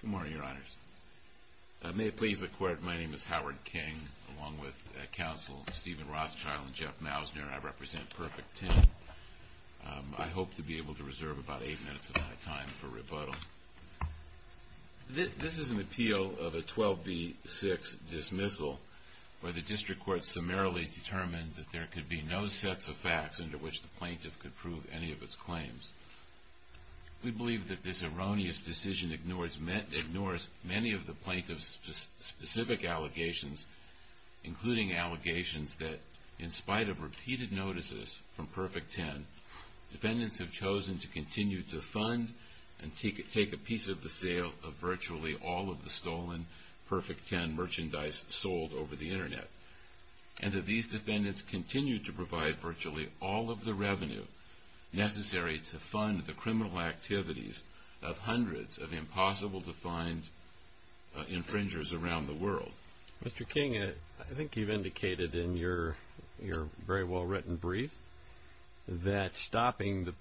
Good morning, Your Honors. May it please the Court, my name is Howard King along with Counsel Stephen Rothschild and Jeff Mousner. I represent Perfect Ten. I hope to be able to reserve about eight minutes of my time for rebuttal. This is an appeal of a 12b-6 dismissal where the District Court summarily determined that there could be no sets of facts under which the plaintiff could prove any of its claims. We believe that this erroneous decision ignores many of the plaintiff's specific allegations, including allegations that, in spite of repeated notices from Perfect Ten, defendants have chosen to continue to fund and take a piece of the sale of virtually all of the stolen Perfect Ten merchandise sold over the Internet, and that these defendants continue to provide virtually all of the revenue necessary to fund the criminal activities of hundreds of impossible-to-find infringers around the world. Mr. King, I think you've indicated in your very well-written brief that stopping the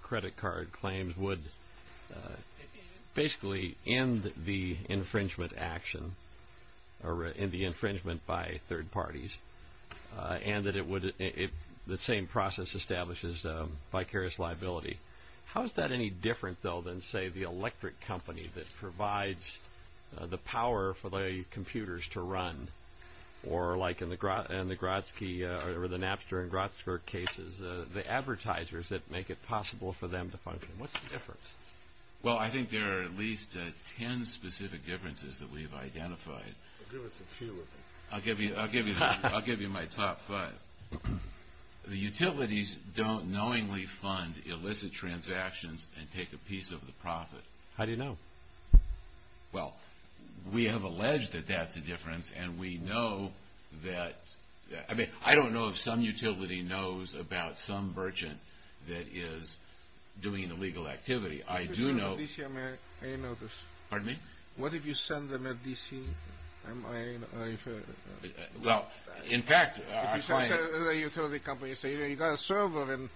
claims would basically end the infringement action, or end the infringement by third parties, and that the same process establishes vicarious liability. How is that any different, though, than, say, the electric company that provides the power for the computers to run, or like in the Napster and Grotzker cases, the advertisers that make it possible for them to function? What's the difference? Well, I think there are at least ten specific differences that we've identified. Give us a few, I think. I'll give you my top five. The utilities don't knowingly fund illicit transactions and take a piece of the profit. How do you know? Well, we have alleged that that's a difference, and we know that... I mean, I don't know if some utility knows about some merchant that is doing an illegal activity. I do know... What if you send them a DCMIA notice? Pardon me? What if you send them a DCMIA notice? Well, in fact... If you send them to a utility company and say, you know, you've got a server in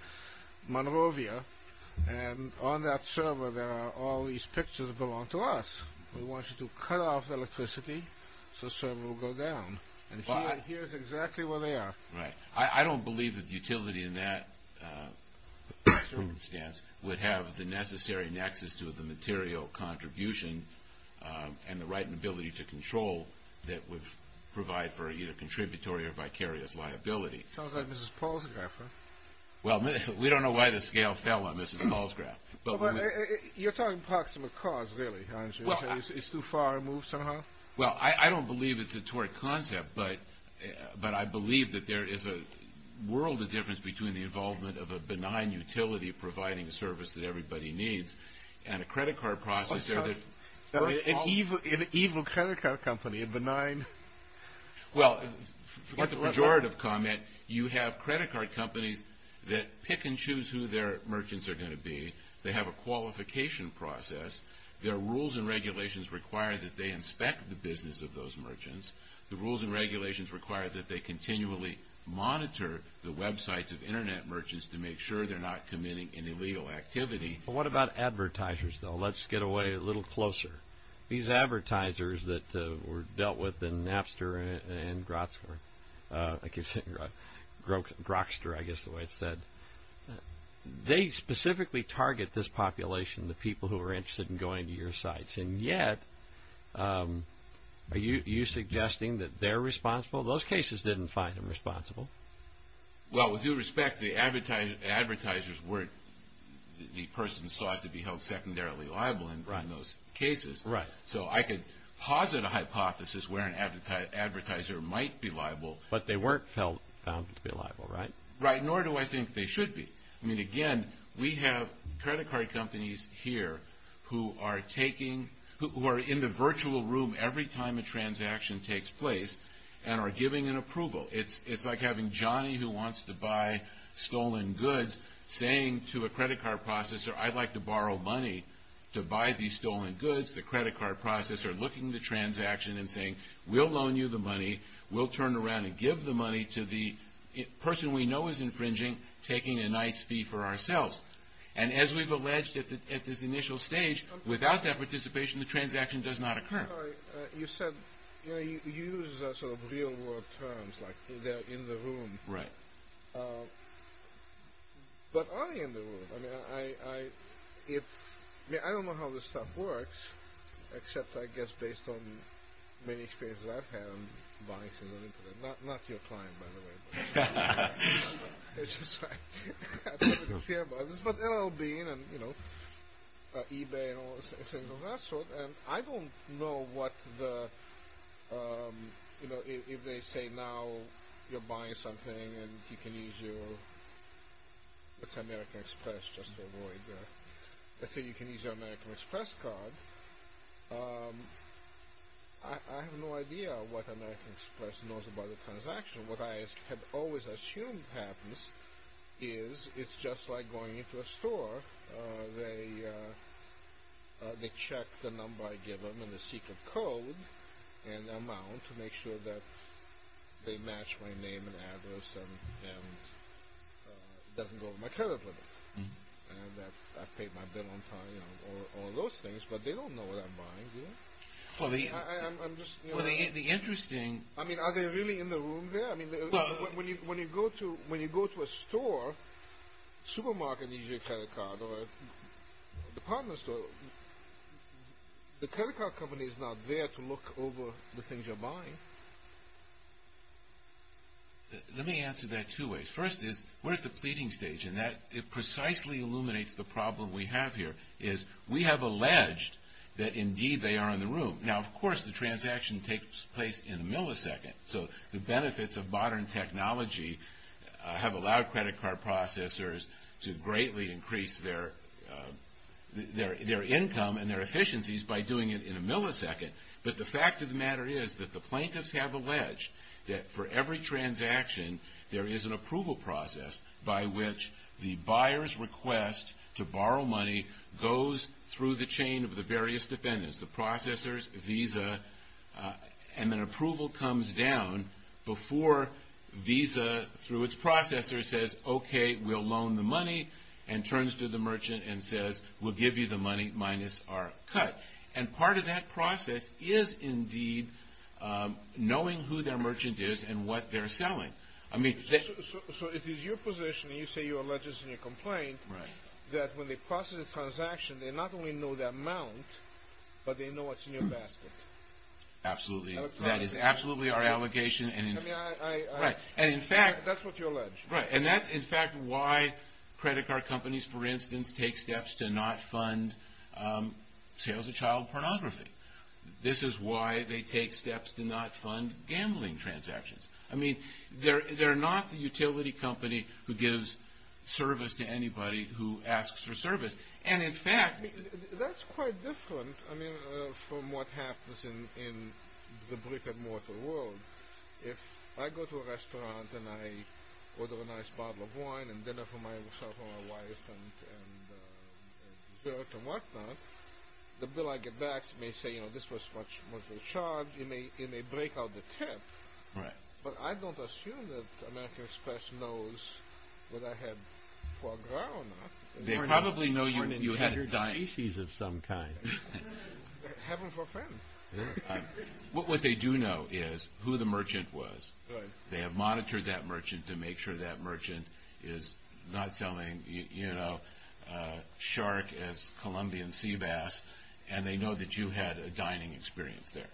Monrovia, and on that server there are all these pictures that belong to us. We want you to cut off the electricity so the server will go down. And here's exactly where they are. Right. I don't believe that the utility in that circumstance would have the necessary nexus to the material contribution and the right and ability to control that would provide for either contributory or vicarious liability. Sounds like Mrs. Palsgraf, huh? Well, we don't know why the scale fell on Mrs. Palsgraf. You're talking proximate cause, really, aren't you? It's too far removed somehow? Well, I don't believe it's a torrid concept, but I believe that there is a world of difference between the involvement of a benign utility providing the service that everybody needs and a credit card process... An evil credit card company, a benign... Well, in the pejorative comment, you have credit card companies that pick and choose who their merchants are going to be. They have a qualification process. Their rules and regulations require that they inspect the business of those merchants. The rules and regulations require that they continually monitor the websites of internet merchants to make sure they're not committing an illegal activity. What about advertisers, though? Let's get away a little closer. These advertisers that were dealt with in Napster and Groxter, I guess the way it's said, they specifically target this population, the people who are interested in going to your sites. And yet, are you suggesting that they're responsible? Those cases didn't find them responsible. Well, with due respect, the advertisers weren't... the person sought to be held secondarily liable in those cases. Right. So I could posit a hypothesis where an advertiser might be liable... But they weren't found to be liable, right? Right. Nor do I think they should be. I mean, again, we have credit card companies here who are taking... who are in the virtual room every time a transaction takes place and are giving an approval. It's like having Johnny who wants to buy stolen goods saying to a credit card processor, I'd like to borrow money to buy these stolen goods. The credit card processor looking at the transaction and saying, we'll loan you the money, we'll turn around and give the money to the person we know is infringing, taking a nice fee for ourselves. And as we've alleged at this initial stage, without that participation, the transaction does not occur. You said, you know, you use sort of real world terms like they're in the room. Right. But are they in the room? I don't know how this stuff works, except I guess based on many experiences I've had in buying things on the internet. Not your client, by the way. It's just that I don't really care about this. But L.L. Bean and eBay and all those things of that sort. And I don't know what the... Let's say you can use your American Express card. I have no idea what American Express knows about a transaction. What I have always assumed happens is it's just like going into a store. They check the number I give them and the secret code and amount to make sure that they match my name and address and it doesn't go over my credit limit. And I've paid my bill on time, you know, all those things. But they don't know what I'm buying, do they? Well, the interesting... I mean, are they really in the room there? When you go to a store, supermarket, and you use your credit card, or a department store, the credit card company is not there to look over the things you're buying. Let me answer that two ways. First is, we're at the pleading stage, and that precisely illuminates the problem we have here. We have alleged that, indeed, they are in the room. Now, of course, the transaction takes place in a millisecond. So the benefits of modern technology have allowed credit card processors to greatly increase their income and their efficiencies by doing it in a millisecond. But the fact of the matter is that the plaintiffs have alleged that for every transaction, there is an approval process by which the buyer's request to borrow money goes through the chain of the various dependents, the processors, Visa, and then approval comes down before Visa, through its processor, says, okay, we'll loan the money, and turns to the merchant and says, we'll give you the money minus our cut. And part of that process is, indeed, knowing who their merchant is and what they're selling. So if it's your position, and you say you're alleging a senior complaint, that when they process a transaction, they not only know the amount, but they know what's in your basket. Absolutely. That is absolutely our allegation. I mean, that's what you allege. Right. And that's, in fact, why credit card companies, for instance, take steps to not fund sales of child pornography. This is why they take steps to not fund gambling transactions. I mean, they're not the utility company who gives service to anybody who asks for service. That's quite different from what happens in the brick-and-mortar world. If I go to a restaurant and I order a nice bottle of wine and dinner for myself or my wife and dessert and whatnot, the bill I get back may say, you know, this was much more charged. It may break out the tip. Right. But I don't assume that American Express knows whether I had 12 grand or not. They probably know you had a diner. Or an inherent species of some kind. Heaven for a friend. What they do know is who the merchant was. Right. They have monitored that merchant to make sure that merchant is not selling, you know, shark as Colombian sea bass, and they know that you had a dining experience there.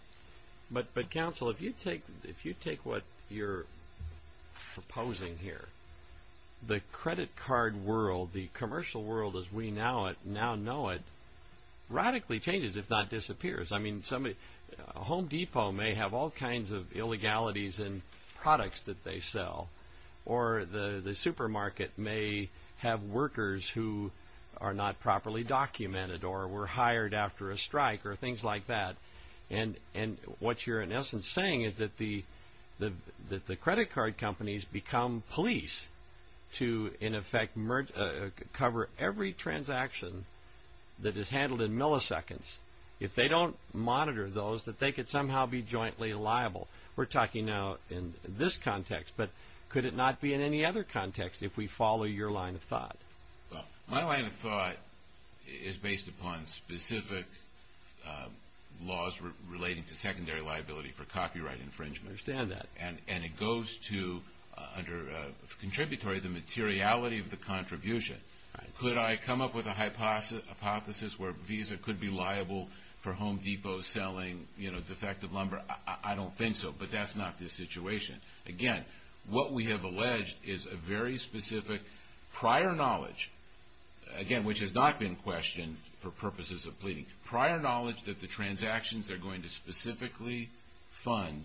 But, counsel, if you take what you're proposing here, the credit card world, the commercial world as we now know it, radically changes, if not disappears. I mean, a Home Depot may have all kinds of illegalities in products that they sell. Or the supermarket may have workers who are not properly documented or were hired after a strike or things like that. And what you're, in essence, saying is that the credit card companies become police to, in effect, cover every transaction that is handled in milliseconds. If they don't monitor those, that they could somehow be jointly liable. We're talking now in this context. But could it not be in any other context if we follow your line of thought? Well, my line of thought is based upon specific laws relating to secondary liability for copyright infringement. I understand that. And it goes to, under contributory, the materiality of the contribution. Could I come up with a hypothesis where Visa could be liable for Home Depot selling, you know, defective lumber? I don't think so. But that's not the situation. Again, what we have alleged is a very specific prior knowledge, again, which has not been questioned for purposes of pleading. Prior knowledge that the transactions they're going to specifically fund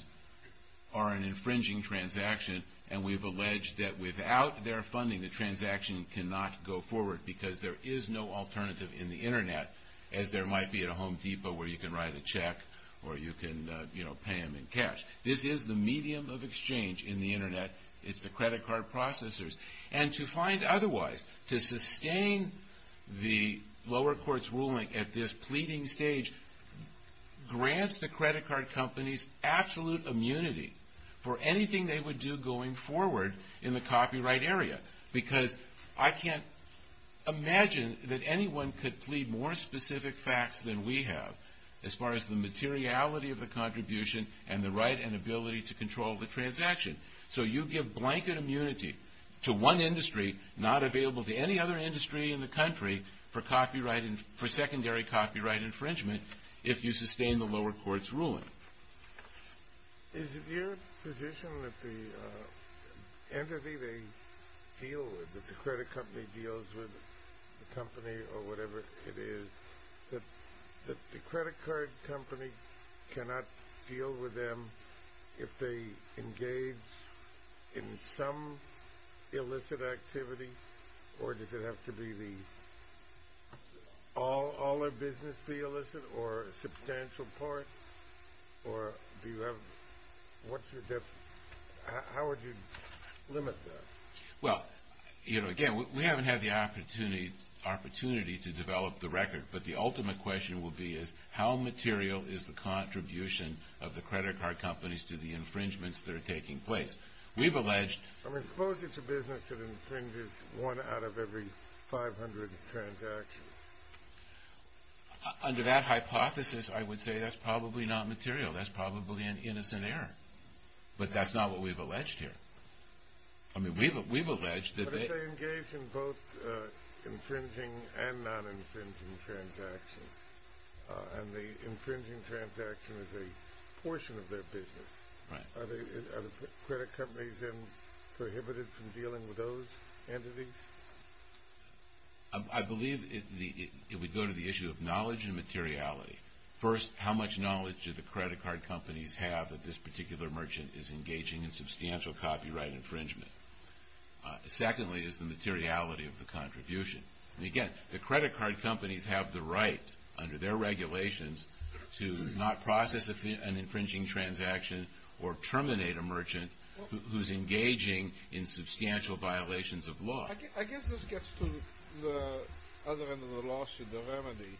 are an infringing transaction. And we've alleged that without their funding, the transaction cannot go forward because there is no alternative in the Internet, as there might be at a Home Depot where you can write a check or you can, you know, pay them in cash. This is the medium of exchange in the Internet. It's the credit card processors. And to find otherwise, to sustain the lower court's ruling at this pleading stage grants the credit card companies absolute immunity for anything they would do going forward in the copyright area. Because I can't imagine that anyone could plead more specific facts than we have as far as the materiality of the contribution and the right and ability to control the transaction. So you give blanket immunity to one industry not available to any other industry in the country for secondary copyright infringement if you sustain the lower court's ruling. Is it your position that the entity they deal with, that the credit company deals with, the company or whatever it is, that the credit card company cannot deal with them if they engage in some illicit activity? Or does it have to be all their business be illicit or a substantial part? Or do you have, what's your definition? How would you limit that? Well, again, we haven't had the opportunity to develop the record. But the ultimate question will be is how material is the contribution of the credit card companies to the infringements that are taking place? We've alleged... I mean, suppose it's a business that infringes one out of every 500 transactions. Under that hypothesis, I would say that's probably not material. That's probably an innocent error. But that's not what we've alleged here. I mean, we've alleged that they... But if they engage in both infringing and non-infringing transactions, and the infringing transaction is a portion of their business, are the credit companies then prohibited from dealing with those entities? I believe it would go to the issue of knowledge and materiality. First, how much knowledge do the credit card companies have that this particular merchant is engaging in substantial copyright infringement? Secondly, is the materiality of the contribution? And, again, the credit card companies have the right, under their regulations, to not process an infringing transaction or terminate a merchant who's engaging in substantial violations of law. I guess this gets to the other end of the lawsuit, the remedy.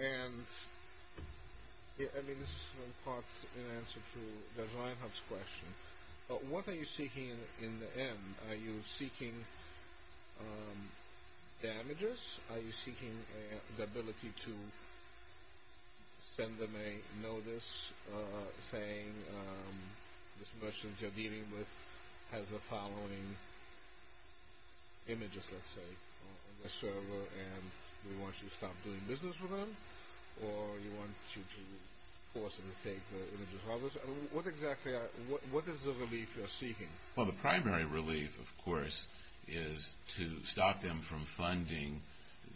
And, I mean, this is in part in answer to Dr. Reinhart's question. What are you seeking in the end? Are you seeking damages? Are you seeking the ability to send them a notice saying, this merchant you're dealing with has the following images, let's say, on their server, and we want you to stop doing business with them? Or you want to force them to take the images of others? What exactly is the relief you're seeking? Well, the primary relief, of course, is to stop them from funding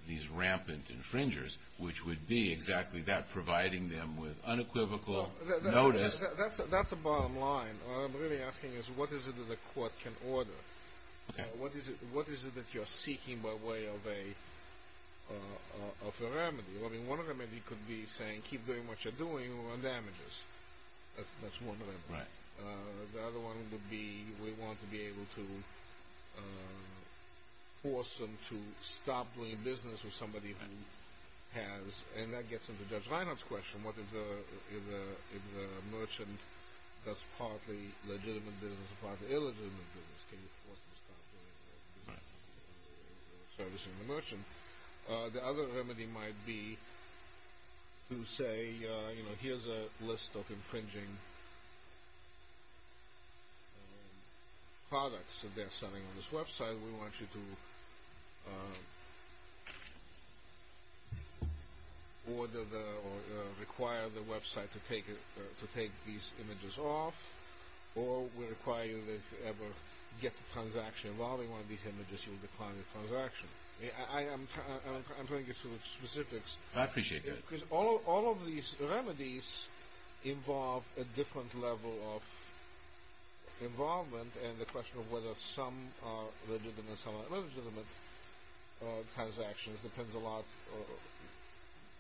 these rampant infringers, which would be exactly that, providing them with unequivocal notice. That's the bottom line. What I'm really asking is, what is it that the court can order? What is it that you're seeking by way of a remedy? I mean, one remedy could be saying, keep doing what you're doing or damages. That's one remedy. The other one would be, we want to be able to force them to stop doing business with somebody who has, and that gets into Judge Reinhardt's question, what if the merchant does partly legitimate business and partly illegitimate business? Can you force them to stop doing business or servicing the merchant? The other remedy might be to say, here's a list of infringing products that they're selling on this website. Either we want you to order or require the website to take these images off, or we require you, if it ever gets a transaction involving one of these images, you'll decline the transaction. I'm trying to get to the specifics. I appreciate that. Because all of these remedies involve a different level of involvement and the question of whether some are legitimate and some are illegitimate transactions depends a lot,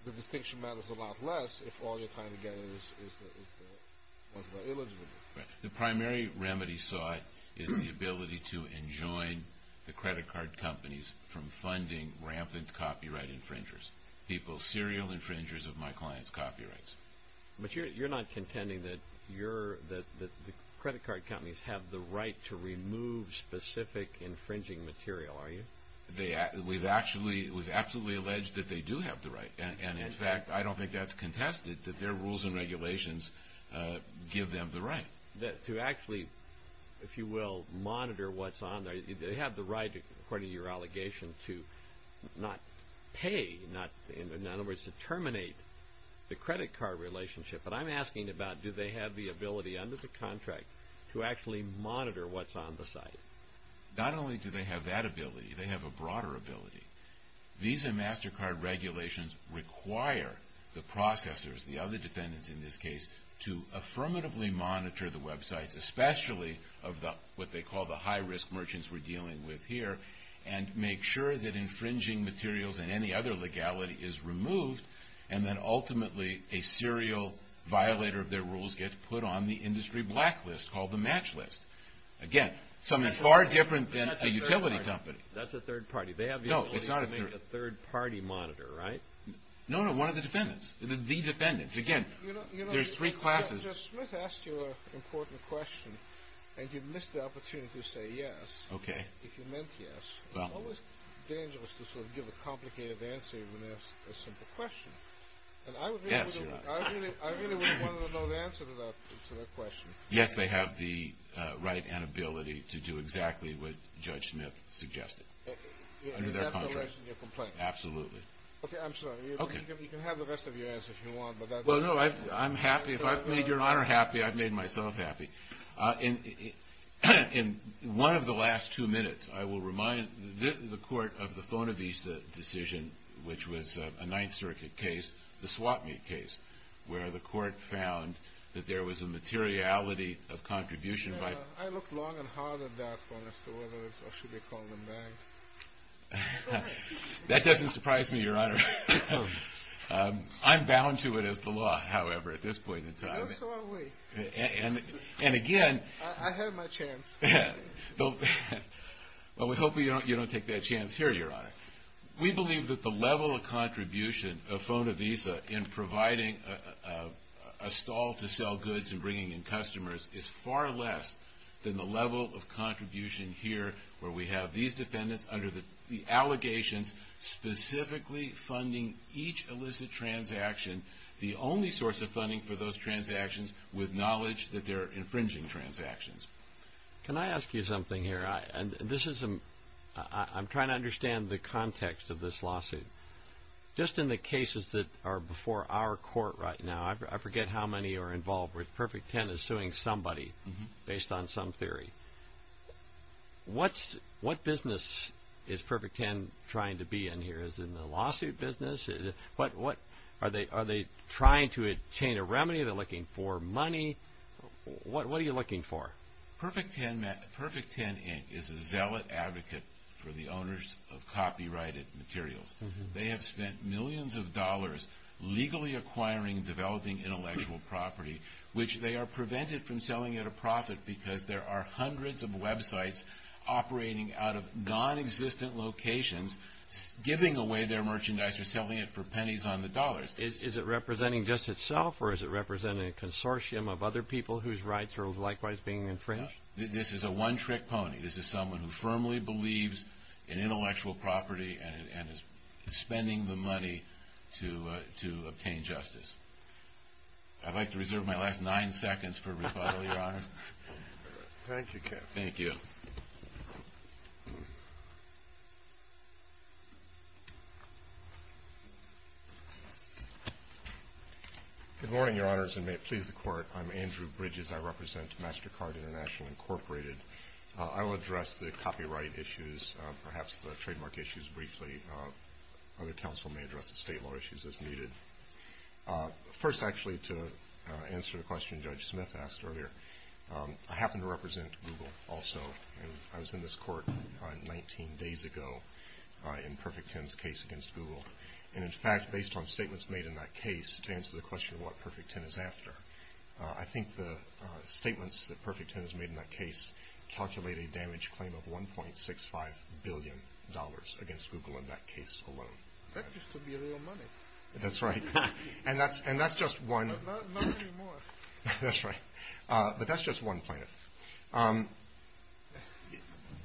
the distinction matters a lot less if all you're trying to get is the ones that are illegitimate. The primary remedy sought is the ability to enjoin the credit card companies from funding rampant copyright infringers, people, serial infringers of my clients' copyrights. But you're not contending that the credit card companies have the right to remove specific infringing material, are you? We've absolutely alleged that they do have the right. In fact, I don't think that's contested, that their rules and regulations give them the right. To actually, if you will, monitor what's on there. They have the right, according to your allegation, to not pay, in other words, to terminate the credit card relationship. But I'm asking about do they have the ability under the contract to actually monitor what's on the site? Not only do they have that ability, they have a broader ability. Visa and MasterCard regulations require the processors, the other defendants in this case, to affirmatively monitor the websites, especially of what they call the high-risk merchants we're dealing with here, and make sure that infringing materials and any other legality is removed, and that ultimately a serial violator of their rules gets put on the industry blacklist called the match list. Again, something far different than a utility company. That's a third party. They have the ability to make a third party monitor, right? No, no, one of the defendants. The defendants. Again, there's three classes. You know, Judge Smith asked you an important question, and you missed the opportunity to say yes. Okay. If you meant yes. Well. It's always dangerous to sort of give a complicated answer when asked a simple question. Yes, you're right. And I really would have wanted to know the answer to that question. Yes, they have the right and ability to do exactly what Judge Smith suggested. Under their contract. And that's the rest of your complaint? Absolutely. Okay, I'm sorry. You can have the rest of your answer if you want. Well, no, I'm happy. If I've made Your Honor happy, I've made myself happy. In one of the last two minutes, I will remind the court of the Fonavisa decision, which was a Ninth Circuit case, the swap meet case, where the court found that there was a materiality of contribution by... I looked long and hard at that for Mr. Wolters, or should I call him that? That doesn't surprise me, Your Honor. I'm bound to it as the law, however, at this point in time. So are we. And again... I have my chance. Well, we hope you don't take that chance here, Your Honor. We believe that the level of contribution of Fonavisa in providing a stall to sell goods and bringing in customers is far less than the level of contribution here where we have these defendants under the allegations, specifically funding each illicit transaction, the only source of funding for those transactions, with knowledge that they're infringing transactions. Can I ask you something here? I'm trying to understand the context of this lawsuit. Just in the cases that are before our court right now, I forget how many are involved where Perfect Ten is suing somebody based on some theory. What business is Perfect Ten trying to be in here? Is it in the lawsuit business? Are they trying to obtain a remedy? Are they looking for money? What are you looking for? Perfect Ten is a zealot advocate for the owners of copyrighted materials. They have spent millions of dollars legally acquiring and developing intellectual property, which they are prevented from selling at a profit because there are hundreds of websites operating out of nonexistent locations giving away their merchandise or selling it for pennies on the dollars. Is it representing just itself or is it representing a consortium of other people whose rights are likewise being infringed? No. This is a one-trick pony. This is someone who firmly believes in intellectual property and is spending the money to obtain justice. I'd like to reserve my last nine seconds for rebuttal, Your Honor. Thank you, Keith. Thank you. Good morning, Your Honors, and may it please the Court. I'm Andrew Bridges. I represent MasterCard International, Incorporated. I will address the copyright issues, perhaps the trademark issues briefly. Other counsel may address the state law issues as needed. First, actually, to answer the question Judge Smith asked earlier, I happen to represent Google also. I was in this court 19 days ago in Perfect Ten's case against Google. And, in fact, based on statements made in that case to answer the question of what Perfect Ten is after, I think the statements that Perfect Ten has made in that case calculate a damage claim of $1.65 billion against Google in that case alone. That used to be real money. That's right. And that's just one. Not anymore. That's right. But that's just one plaintiff.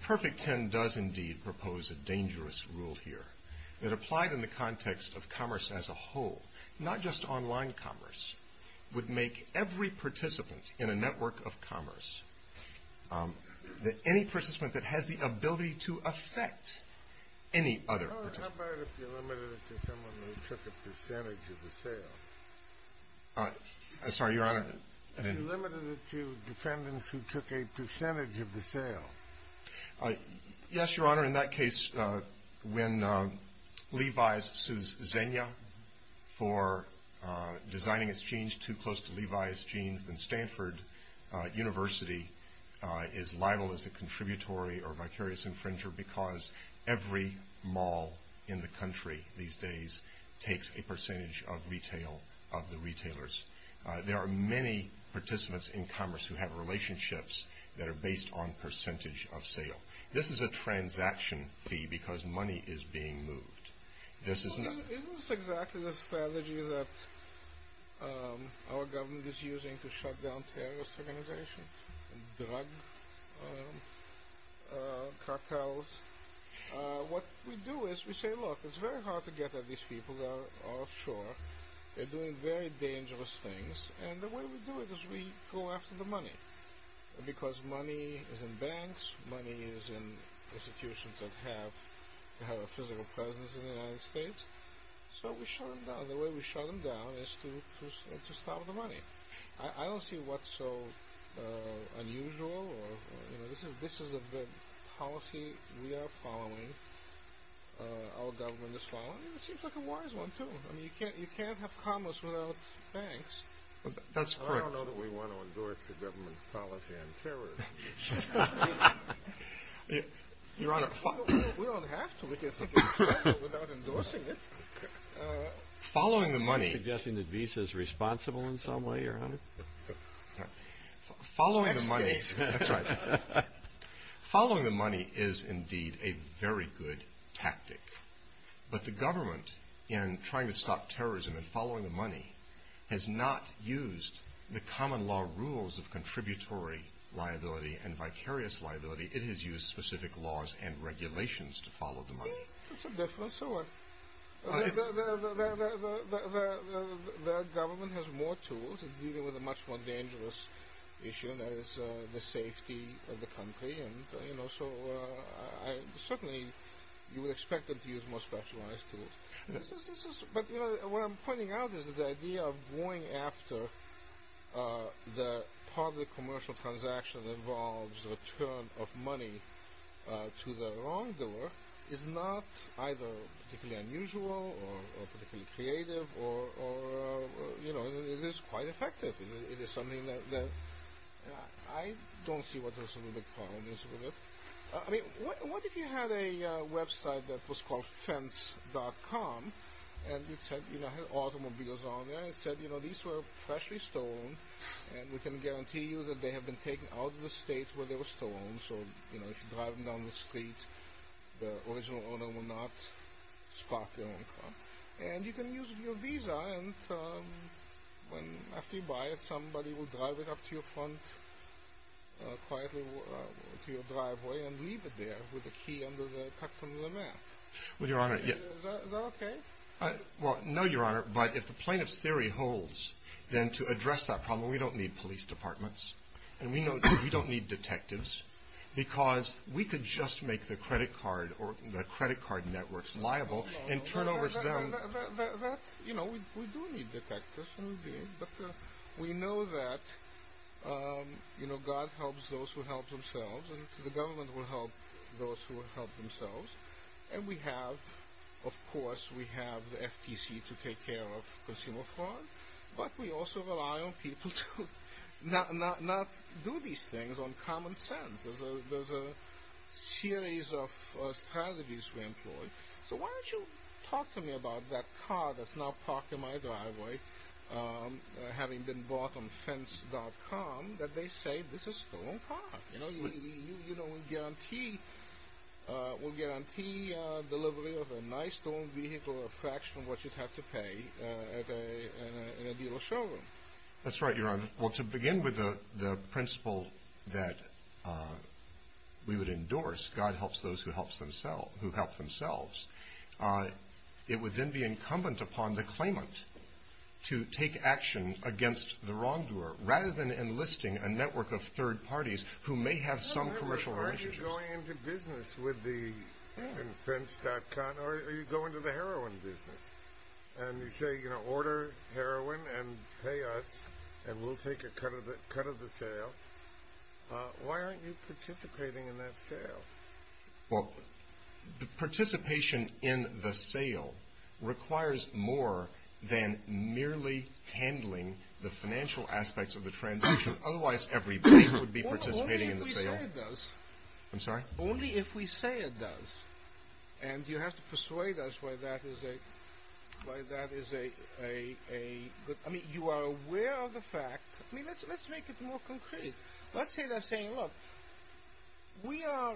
Perfect Ten does indeed propose a dangerous rule here that applied in the context of commerce as a whole, not just online commerce, would make every participant in a network of commerce, any participant that has the ability to affect any other. How about if you limited it to someone who took a percentage of the sale? Sorry, Your Honor. If you limited it to defendants who took a percentage of the sale. Yes, Your Honor. Your Honor, in that case, when Levi's sues Xenia for designing its jeans too close to Levi's jeans, then Stanford University is liable as a contributory or vicarious infringer because every mall in the country these days takes a percentage of retail of the retailers. There are many participants in commerce who have relationships that are based on percentage of sale. This is a transaction fee because money is being moved. Isn't this exactly the strategy that our government is using to shut down terrorist organizations and drug cartels? What we do is we say, look, it's very hard to get at these people. They're offshore. They're doing very dangerous things. And the way we do it is we go after the money. Because money is in banks. Money is in institutions that have a physical presence in the United States. So we shut them down. The way we shut them down is to stop the money. I don't see what's so unusual. This is a policy we are following. Our government is following. It seems like a wise one, too. You can't have commerce without banks. That's correct. I don't know that we want to endorse the government's policy on terrorism. We don't have to because we can travel without endorsing it. Are you suggesting that Visa is responsible in some way, Your Honor? Following the money is indeed a very good tactic. But the government, in trying to stop terrorism and following the money, has not used the common law rules of contributory liability and vicarious liability. It has used specific laws and regulations to follow the money. That's a difference. The government has more tools in dealing with a much more dangerous issue, and that is the safety of the country. Certainly, you would expect them to use more specialized tools. But what I'm pointing out is that the idea of going after the public commercial transaction that involves the return of money to the wrongdoer is not either particularly unusual or particularly creative. It is quite effective. It is something that I don't see what the real problem is with it. I mean, what if you had a website that was called fence.com and it said, you know, it had automobiles on there, and it said, you know, these were freshly stolen, and we can guarantee you that they have been taken out of the state where they were stolen. So, you know, if you drive them down the street, the original owner will not stock their own car. And you can use your visa, and after you buy it, somebody will drive it up to your front, quietly to your driveway, and leave it there with the key under the cut from the map. Well, Your Honor. Is that okay? Well, no, Your Honor. But if the plaintiff's theory holds, then to address that problem, we don't need police departments, and we don't need detectives, because we could just make the credit card networks liable and turn over to them. That, you know, we do need detectives. But we know that, you know, God helps those who help themselves, and the government will help those who help themselves. And we have, of course, we have the FTC to take care of consumer fraud, but we also rely on people to not do these things on common sense. There's a series of strategies we employ. So why don't you talk to me about that car that's now parked in my driveway, having been bought on fence.com, that they say this is their own car. You know, we guarantee delivery of a nice, their own vehicle, a fraction of what you'd have to pay in a dealership. That's right, Your Honor. Well, to begin with the principle that we would endorse, God helps those who help themselves, it would then be incumbent upon the claimant to take action against the wrongdoer, rather than enlisting a network of third parties who may have some commercial relationship. Are you going into business with the, in fence.com, or are you going to the heroin business? And you say, you know, order heroin and pay us, and we'll take a cut of the sale. Why aren't you participating in that sale? Well, the participation in the sale requires more than merely handling the financial aspects of the transaction. Otherwise everybody would be participating in the sale. Only if we say it does. I'm sorry? Only if we say it does. And you have to persuade us why that is a, why that is a, I mean, you are aware of the fact, I mean, let's make it more concrete. Let's say they're saying, look, we are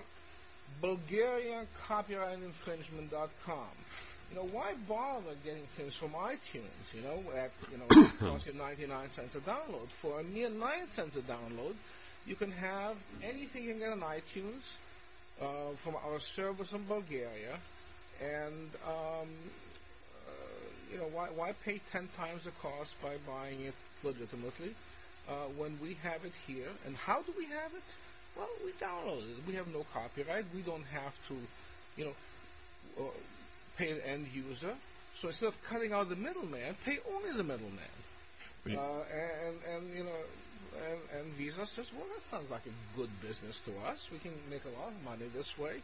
bulgariancopyrightandinfringement.com. You know, why bother getting things from iTunes? You know, it costs you 99 cents a download. For a mere 9 cents a download, you can have anything you can get on iTunes from our service in Bulgaria, and, you know, why pay 10 times the cost by buying it legitimately when we have it here? And how do we have it? Well, we download it. We have no copyright. We don't have to, you know, pay an end user. So instead of cutting out the middleman, pay only the middleman. And Visa says, well, that sounds like a good business to us. We can make a lot of money this way.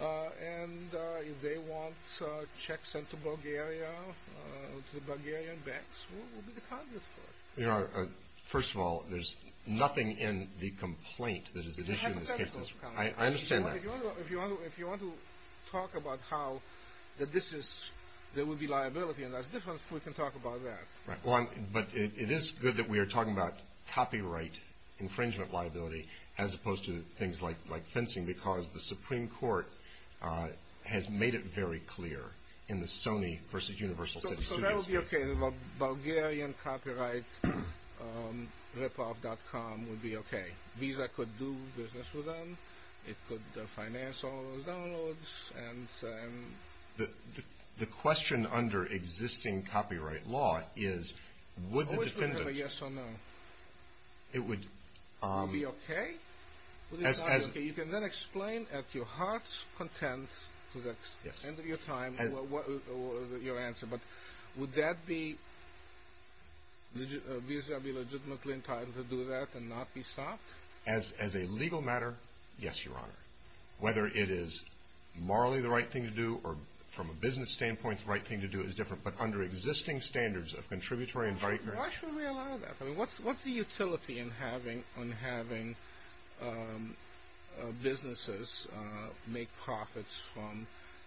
And if they want checks sent to Bulgaria, to the Bulgarian banks, who will be the Congress for it? You know, first of all, there's nothing in the complaint that is at issue in this case. I understand that. If you want to talk about how that this is, there will be liability, and that's different, we can talk about that. Right. But it is good that we are talking about copyright infringement liability as opposed to things like fencing because the Supreme Court has made it very clear in the Sony versus Universal City Studios case. So that would be okay, the Bulgarian copyright ripoff.com would be okay. Visa could do business with them. It could finance all of those downloads. The question under existing copyright law is would the defendant. I wish we had a yes or no. It would. Would it be okay? You can then explain at your heart's content to the end of your time your answer, but would that be Visa be legitimately entitled to do that and not be stopped? As a legal matter, yes, Your Honor. Whether it is morally the right thing to do or from a business standpoint the right thing to do is different, but under existing standards of contributory and proprietary. Why should we allow that? What is the utility in having businesses make profits from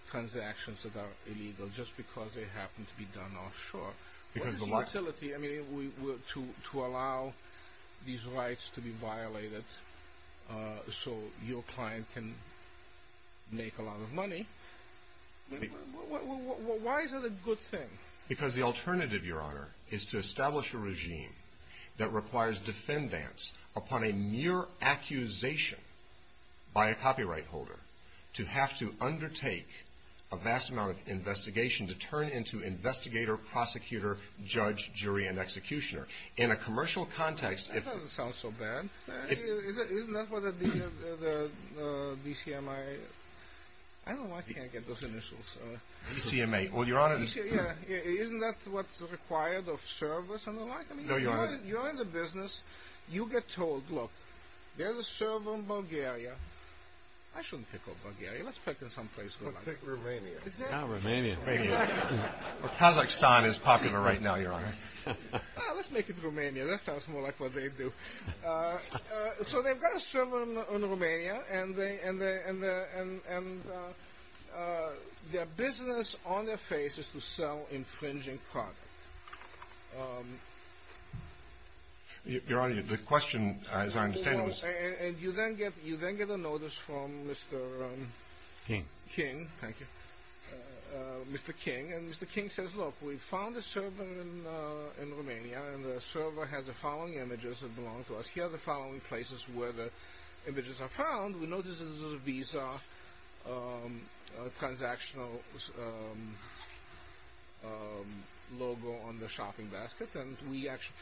transactions that are illegal just because they happen to be done offshore? What is the utility to allow these rights to be violated so your client can make a lot of money? Why is it a good thing? Because the alternative, Your Honor, is to establish a regime that requires defendants upon a mere accusation by a copyright holder to have to undertake a vast amount of investigation to turn into investigator, prosecutor, judge, jury, and executioner. In a commercial context. That doesn't sound so bad. Isn't that what the DCMA, I don't know why I can't get those initials. DCMA. Well, Your Honor. Isn't that what's required of servers and the like? No, Your Honor. You're in the business. You get told, look, there's a server in Bulgaria. I shouldn't pick on Bulgaria. Let's pick some place we like. Let's pick Romania. Oh, Romania. Exactly. Kazakhstan is popular right now, Your Honor. Let's make it Romania. That sounds more like what they do. So they've got a server in Romania, and their business on their face is to sell infringing product. Your Honor, the question, as I understand it, was... And you then get a notice from Mr. King. King. Thank you. Here are the following places where the images are found. We notice there's a Visa transactional logo on the shopping basket. And we actually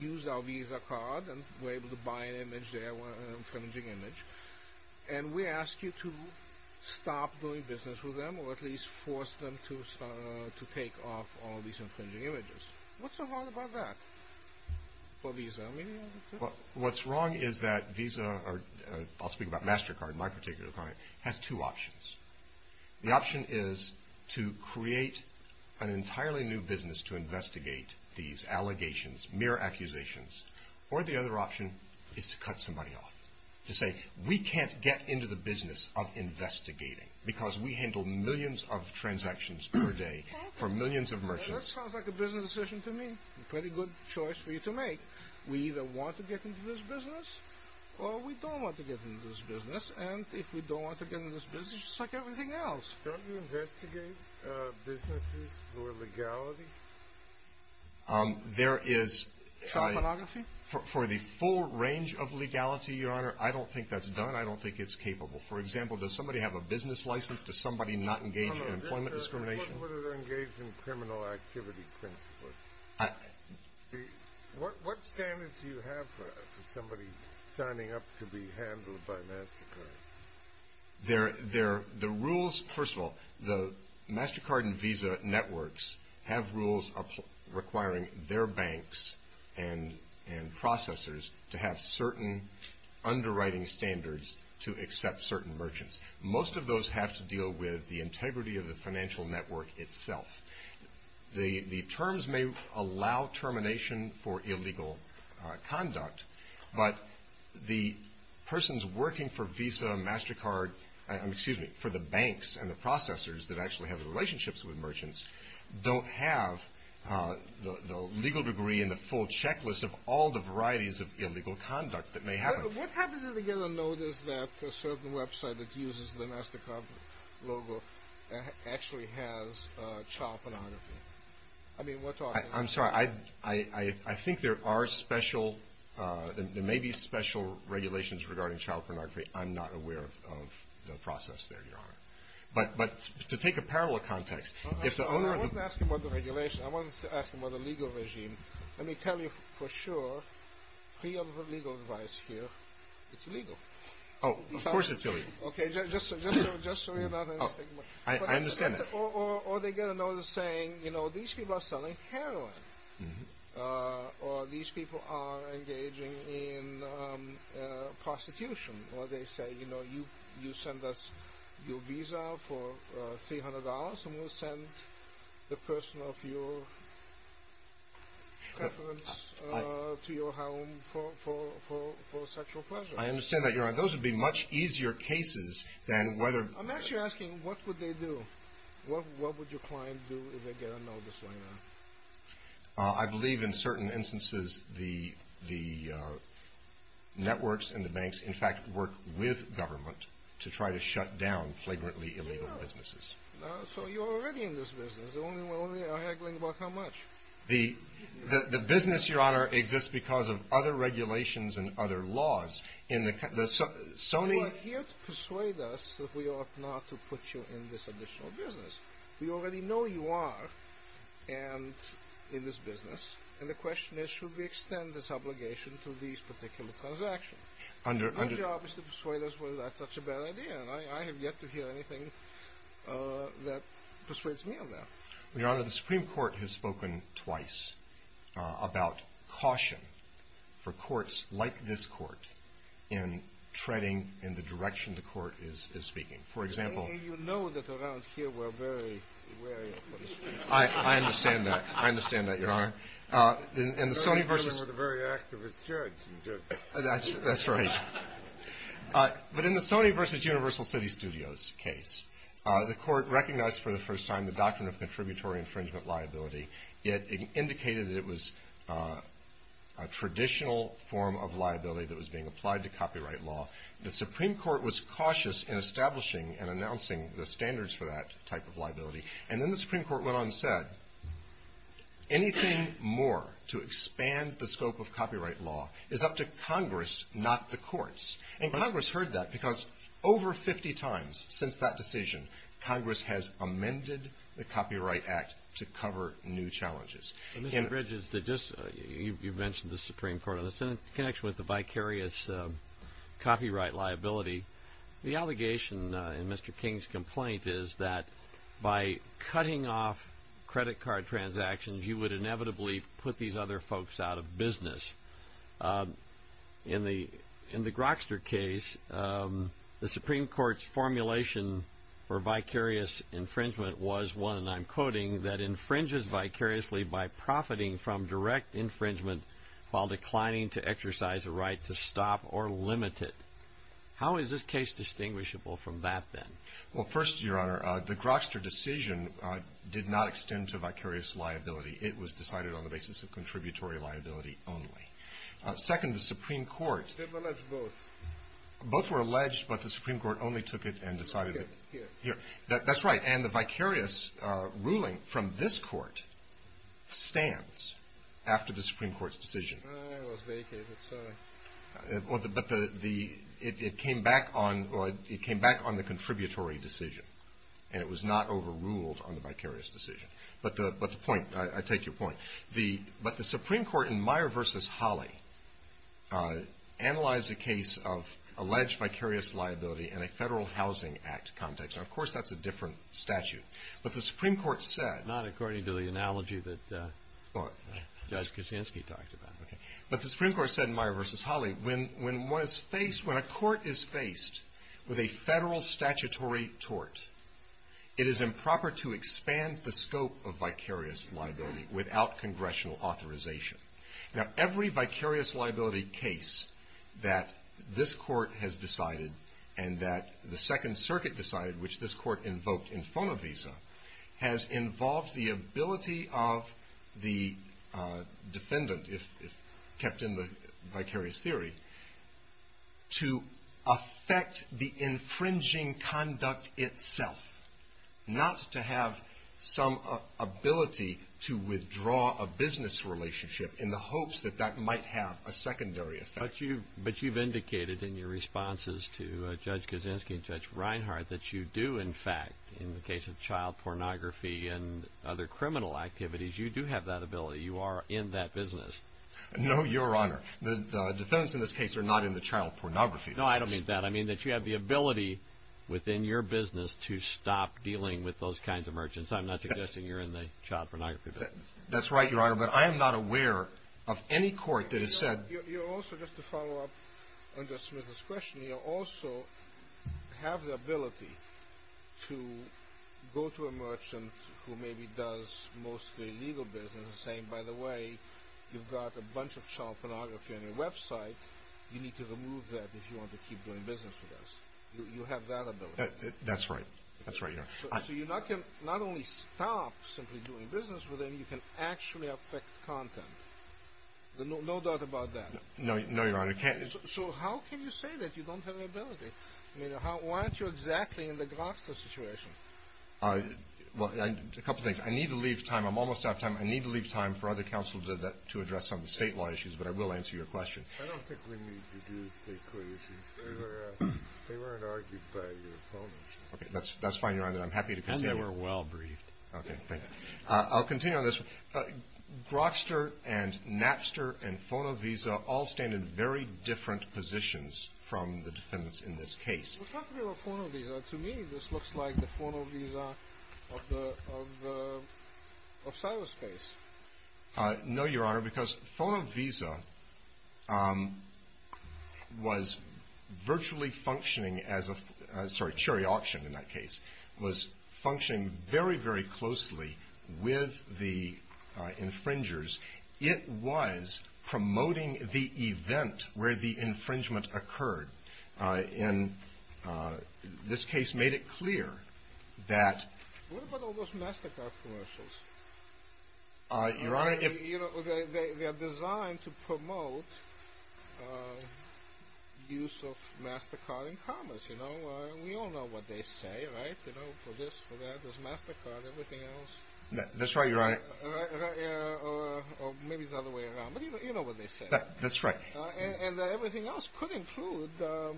used our Visa card and were able to buy an image there, an infringing image. And we ask you to stop doing business with them, or at least force them to take off all these infringing images. What's so wrong about that for Visa? What's wrong is that Visa, or I'll speak about MasterCard, my particular client, has two options. The option is to create an entirely new business to investigate these allegations, mere accusations. Or the other option is to cut somebody off, to say, we can't get into the business of investigating because we handle millions of transactions per day for millions of merchants. That sounds like a business decision to me. Pretty good choice for you to make. We either want to get into this business, or we don't want to get into this business. And if we don't want to get into this business, it's like everything else. Don't you investigate businesses for legality? There is... Shop monography? For the full range of legality, Your Honor, I don't think that's done. I don't think it's capable. For example, does somebody have a business license? Does somebody not engage in employment discrimination? Or would it engage in criminal activity principles? What standards do you have for somebody signing up to be handled by MasterCard? The rules, first of all, the MasterCard and Visa networks have rules requiring their banks and processors to have certain underwriting standards to accept certain merchants. Most of those have to deal with the integrity of the financial network itself. The terms may allow termination for illegal conduct, but the persons working for Visa, MasterCard, excuse me, for the banks and the processors that actually have relationships with merchants don't have the legal degree and the full checklist of all the varieties of illegal conduct that may happen. What happens if they get a notice that a certain website that uses the MasterCard logo actually has child pornography? I'm sorry. I think there are special... There may be special regulations regarding child pornography. I'm not aware of the process there, Your Honor. But to take a parallel context... I wasn't asking about the regulations. I wasn't asking about the legal regime. Let me tell you for sure, free of legal advice here, it's legal. Oh, of course it's illegal. Okay, just so you're not under stigma. I understand that. Or they get a notice saying, you know, these people are selling heroin. Or these people are engaging in prosecution. Or they say, you know, you send us your Visa for $300 and we'll send the person of your preference to your home for sexual pleasure. I understand that, Your Honor. Those would be much easier cases than whether... I'm actually asking, what would they do? What would your client do if they get a notice like that? I believe in certain instances the networks and the banks, in fact, work with government to try to shut down flagrantly illegal businesses. So you're already in this business. We're only haggling about how much. The business, Your Honor, exists because of other regulations and other laws. You are here to persuade us that we ought not to put you in this additional business. We already know you are in this business. And the question is, should we extend this obligation to these particular transactions? Your job is to persuade us whether that's such a bad idea. And I have yet to hear anything that persuades me of that. Your Honor, the Supreme Court has spoken twice about caution for courts like this court in treading in the direction the court is speaking. For example... You know that around here we're very wary of the Supreme Court. I understand that. I understand that, Your Honor. And the Sony versus... But in the Sony versus Universal City Studios case, the court recognized for the first time the doctrine of contributory infringement liability. It indicated that it was a traditional form of liability that was being applied to copyright law. The Supreme Court was cautious in establishing and announcing the standards for that type of liability. Anything more to expand the scope of copyright law is up to Congress, not the courts. And Congress heard that because over 50 times since that decision, Congress has amended the Copyright Act to cover new challenges. Mr. Bridges, you mentioned the Supreme Court. In connection with the vicarious copyright liability, the allegation in Mr. King's complaint is that by cutting off credit card transactions, you would inevitably put these other folks out of business. In the Grokster case, the Supreme Court's formulation for vicarious infringement was one, and I'm quoting, that infringes vicariously by profiting from direct infringement while declining to exercise a right to stop or limit it. How is this case distinguishable from that, then? Well, first, Your Honor, the Grokster decision did not extend to vicarious liability. It was decided on the basis of contributory liability only. Second, the Supreme Court. They've alleged both. Both were alleged, but the Supreme Court only took it and decided it. Here. That's right. And the vicarious ruling from this court stands after the Supreme Court's decision. I was vacated. Sorry. But it came back on the contributory decision, and it was not overruled on the vicarious decision. But the point, I take your point. But the Supreme Court in Meyer v. Holley analyzed a case of alleged vicarious liability in a Federal Housing Act context. Now, of course, that's a different statute. But the Supreme Court said. Not according to the analogy that Judge Kuczynski talked about. But the Supreme Court said in Meyer v. Holley, when a court is faced with a federal statutory tort, it is improper to expand the scope of vicarious liability without congressional authorization. Now, every vicarious liability case that this court has decided and that the Second Circuit decided, which this court invoked in Fonovisa, has involved the ability of the defendant, if kept in the vicarious theory, to affect the infringing conduct itself, not to have some ability to withdraw a business relationship in the hopes that that might have a secondary effect. But you've indicated in your responses to Judge Kuczynski and Judge Reinhart that you do, in fact, in the case of child pornography and other criminal activities, you do have that ability. You are in that business. No, Your Honor. The defendants in this case are not in the child pornography business. No, I don't mean that. I mean that you have the ability within your business to stop dealing with those kinds of merchants. I'm not suggesting you're in the child pornography business. That's right, Your Honor. But I am not aware of any court that has said. You also, just to follow up on Judge Smith's question, you also have the ability to go to a merchant who maybe does mostly legal business and say, by the way, you've got a bunch of child pornography on your website. You need to remove that if you want to keep doing business with us. You have that ability. That's right. That's right, Your Honor. So you not only stop simply doing business with them, you can actually affect content. No doubt about that. No, Your Honor. So how can you say that you don't have the ability? Why aren't you exactly in the Grokster situation? Well, a couple things. I need to leave time. I'm almost out of time. I need to leave time for other counsel to address some of the statewide issues, but I will answer your question. I don't think we need to do state court issues. They weren't argued by your opponents. Okay, that's fine, Your Honor. I'm happy to continue. And they were well briefed. Okay, thank you. I'll continue on this. Grokster and Napster and FonoVisa all stand in very different positions from the defendants in this case. Well, talk to me about FonoVisa. To me, this looks like the FonoVisa of cyberspace. No, Your Honor, because FonoVisa was virtually functioning as a – sorry, was functioning very, very closely with the infringers. It was promoting the event where the infringement occurred. And this case made it clear that – What about all those MasterCard commercials? Your Honor, if – They are designed to promote use of MasterCard in commerce. We all know what they say, right? For this, for that, there's MasterCard, everything else. That's right, Your Honor. Or maybe it's the other way around, but you know what they say. That's right. And everything else could include the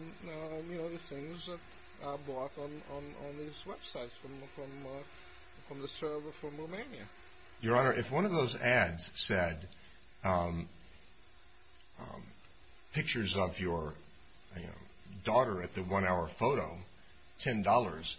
things that are bought on these websites from Romania. Your Honor, if one of those ads said pictures of your daughter at the one-hour photo, $10,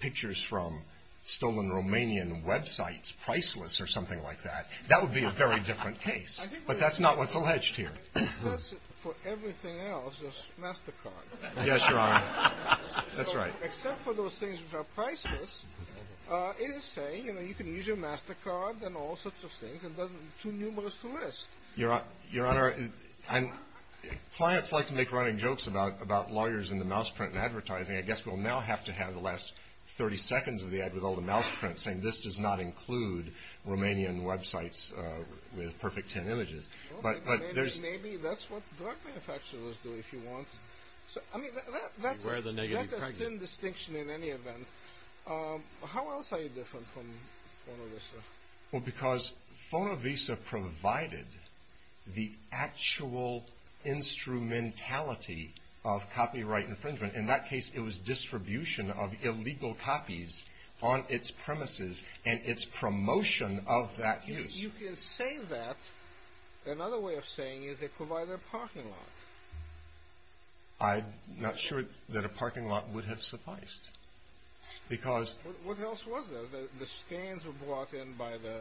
pictures from stolen Romanian websites, priceless or something like that, that would be a very different case. But that's not what's alleged here. Except for everything else, there's MasterCard. Yes, Your Honor. That's right. Except for those things which are priceless, it is saying, you know, you can use your MasterCard and all sorts of things. It doesn't – too numerous to list. Your Honor, clients like to make running jokes about lawyers in the mouse print and advertising. I guess we'll now have to have the last 30 seconds of the ad with all the mouse prints saying, this does not include Romanian websites with perfect 10 images. Maybe that's what drug manufacturers do if you want. I mean, that's a thin distinction in any event. How else are you different from FonoVisa? Well, because FonoVisa provided the actual instrumentality of copyright infringement. In that case, it was distribution of illegal copies on its premises and its promotion of that use. You can say that. Another way of saying it is they provided a parking lot. I'm not sure that a parking lot would have sufficed. Because – What else was there? The scans were brought in by the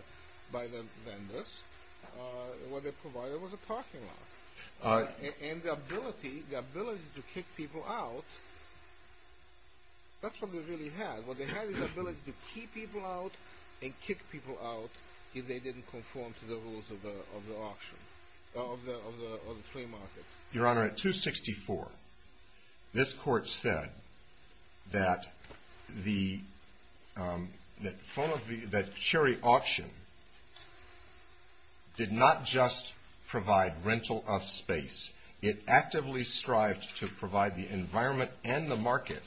vendors. What they provided was a parking lot. And the ability to kick people out, that's what they really had. What they had was the ability to keep people out and kick people out if they didn't conform to the rules of the auction, of the free market. Your Honor, at 264, this court said that Cherry Auction did not just provide rental of space. It actively strived to provide the environment and the market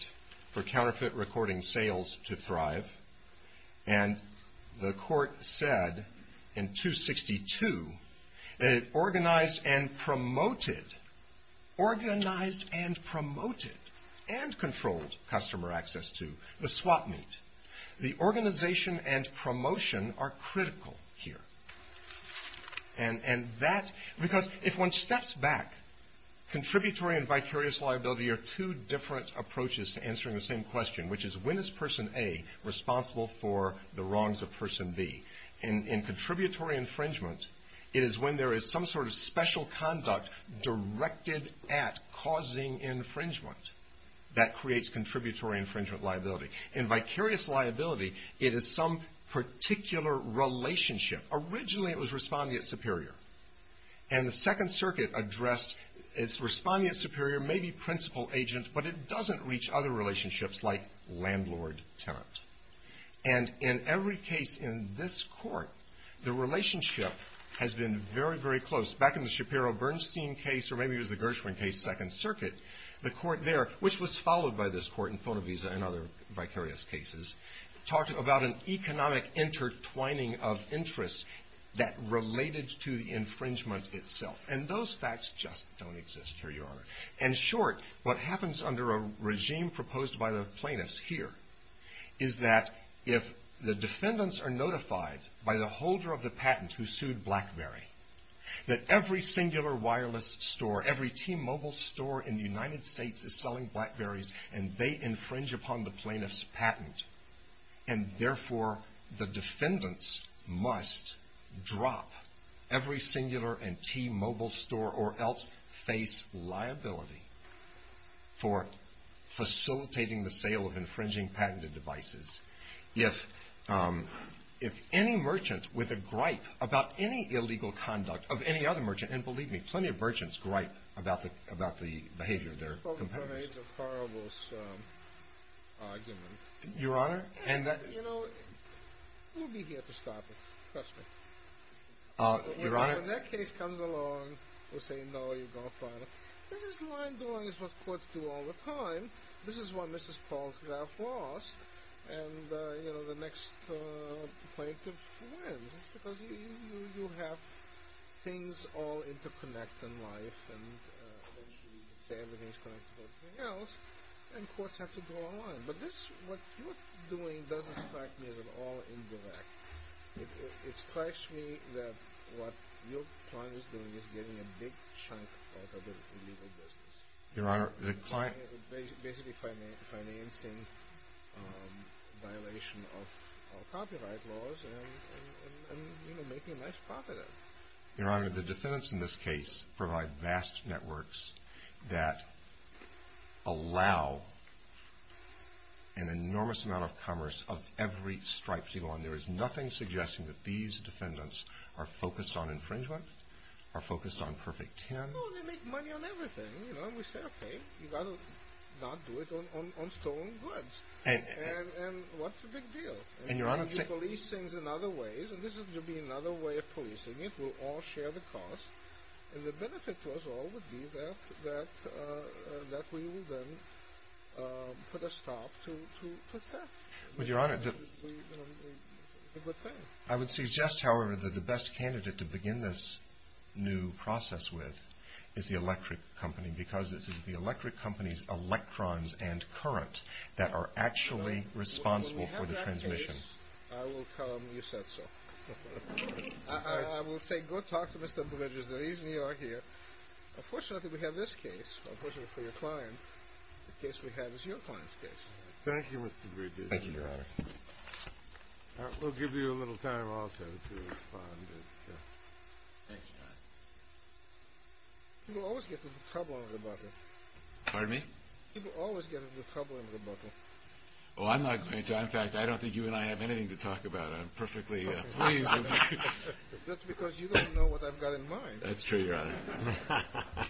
for counterfeit recording sales to thrive. And the court said in 262 that it organized and promoted – organized and promoted and controlled customer access to the swap meet. The organization and promotion are critical here. And that – because if one steps back, contributory and vicarious liability are two different approaches to answering the same question, which is when is Person A responsible for the wrongs of Person B? In contributory infringement, it is when there is some sort of special conduct directed at causing infringement that creates contributory infringement liability. In vicarious liability, it is some particular relationship. Originally, it was respondent superior. And the Second Circuit addressed – it's respondent superior, maybe principal agent, but it doesn't reach other relationships like landlord-tenant. And in every case in this court, the relationship has been very, very close. Back in the Shapiro-Bernstein case, or maybe it was the Gershwin case, Second Circuit, the court there, which was followed by this court in Fonovisa and other vicarious cases, talked about an economic intertwining of interests that related to the infringement itself. And those facts just don't exist here, Your Honor. In short, what happens under a regime proposed by the plaintiffs here is that if the defendants are notified by the holder of the patent who sued BlackBerry that every singular wireless store, every T-Mobile store in the United States is selling BlackBerrys, and they infringe upon the plaintiff's patent, and therefore the defendants must drop every singular and T-Mobile store or else face liability for facilitating the sale of infringing patented devices. If any merchant with a gripe about any illegal conduct of any other merchant, and believe me, plenty of merchants gripe about the behavior of their competitors. It's called the Grenades of Horribles argument. Your Honor, and that... You know, we'll be here to stop it, trust me. Your Honor... And when that case comes along, we'll say, no, you're going to file it. This is the line doing what courts do all the time. This is why Mrs. Paul's graph lost. And, you know, the next plaintiff wins. It's because you have things all interconnected in life, and everything's connected to everything else, and courts have to draw a line. But this, what you're doing doesn't strike me as at all indirect. It strikes me that what your client is doing is getting a big chunk out of the illegal business. Your Honor, the client... Basically financing violation of copyright laws and, you know, making a nice profit out of it. Your Honor, the defendants in this case provide vast networks that allow an enormous amount of commerce of every stripe you want. There is nothing suggesting that these defendants are focused on infringement, are focused on perfect 10. Oh, they make money on everything, you know. We say, okay, you've got to not do it on stolen goods. And what's the big deal? And, Your Honor... And you police things in other ways, and this is going to be another way of policing it. We'll all share the cost. And the benefit to us all would be that we will then put a stop to theft. But, Your Honor... It would be a good thing. I would suggest, however, that the best candidate to begin this new process with is the electric company because it is the electric company's electrons and current that are actually responsible for the transmission. When we have that case, I will tell them you said so. I will say, go talk to Mr. Bridges. The reason you are here, unfortunately we have this case, unfortunately for your client, the case we have is your client's case. Thank you, Your Honor. We'll give you a little time also to respond. Thank you, Your Honor. People always get into trouble under the buckle. Pardon me? People always get into trouble under the buckle. Oh, I'm not going to. In fact, I don't think you and I have anything to talk about. I'm perfectly pleased with you. That's because you don't know what I've got in mind. That's true, Your Honor.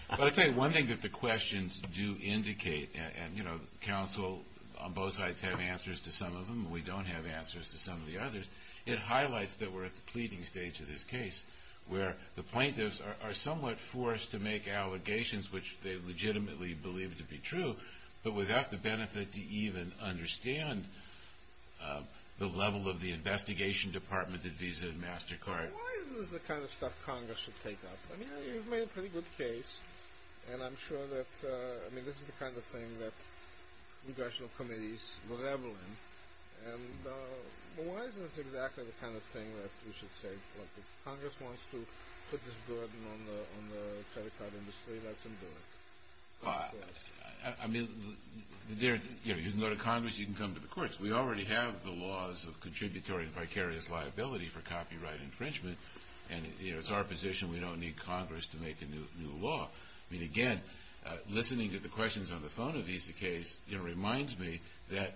But I'll tell you one thing that the questions do indicate, and, you know, counsel on both sides have answers to some of them. We don't have answers to some of the others. It highlights that we're at the pleading stage of this case, where the plaintiffs are somewhat forced to make allegations which they legitimately believe to be true, but without the benefit to even understand the level of the investigation department at Visa and MasterCard. Why is this the kind of stuff Congress should take up? I mean, you've made a pretty good case, and I'm sure that, I mean, this is the kind of thing that congressional committees revel in. And why is this exactly the kind of thing that we should take? Like, if Congress wants to put this burden on the credit card industry, let them do it. I mean, you can go to Congress, you can come to the courts. We already have the laws of contributory vicarious liability for copyright infringement, and, you know, it's our position we don't need Congress to make a new law. I mean, again, listening to the questions on the phone of Visa case, you know, reminds me that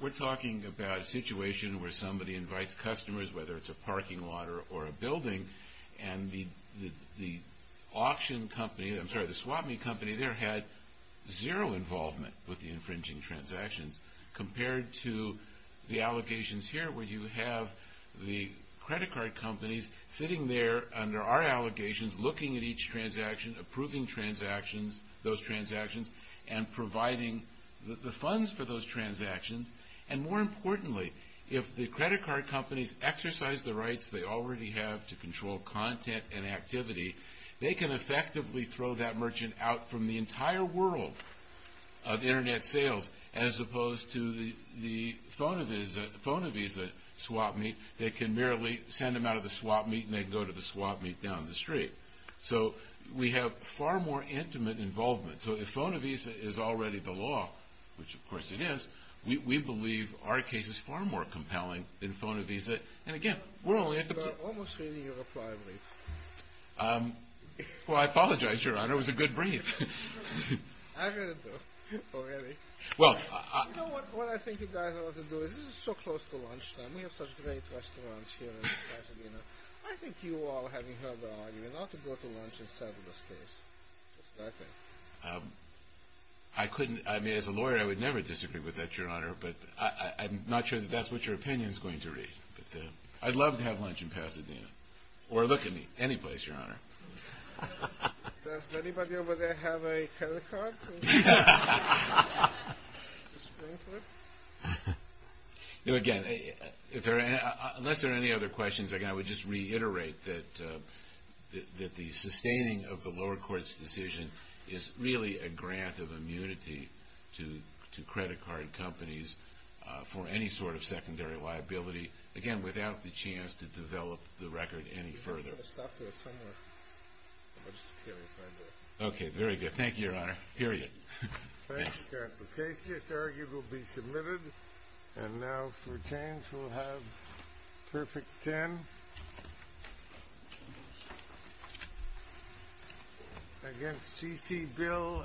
we're talking about a situation where somebody invites customers, whether it's a parking lot or a building, and the auction company, I'm sorry, the swap-me company there had zero involvement with the infringing transactions, compared to the allegations here where you have the credit card companies sitting there under our allegations, looking at each transaction, approving transactions, those transactions, and providing the funds for those transactions. And more importantly, if the credit card companies exercise the rights they already have to control content and activity, they can effectively throw that merchant out from the entire world of Internet sales, as opposed to the phone-of-Visa swap-me, they can merely send them out of the swap-me, and they go to the swap-me down the street. So we have far more intimate involvement. So if phone-of-Visa is already the law, which of course it is, we believe our case is far more compelling than phone-of-Visa. And again, we're only at the... You're almost reading your reply brief. Well, I apologize, Your Honor. It was a good brief. I heard it, though, already. Well, I... You know what I think you guys ought to do? This is so close to lunchtime. We have such great restaurants here in Pasadena. I think you all, having heard the argument, ought to go to lunch and settle this case. That's what I think. I couldn't... I mean, as a lawyer, I would never disagree with that, Your Honor, but I'm not sure that that's what your opinion is going to read. But I'd love to have lunch in Pasadena, or look at me, any place, Your Honor. Does anybody over there have a credit card? Again, unless there are any other questions, I would just reiterate that the sustaining of the lower court's decision is really a grant of immunity to credit card companies for any sort of secondary liability, again, without the chance to develop the record any further. I'm going to stop there somewhere. I'll just carry it right there. Okay, very good. Thank you, Your Honor. Period. The case just argued will be submitted. And now, for a change, we'll have Perfect Ten against C.C. Bill, LLC.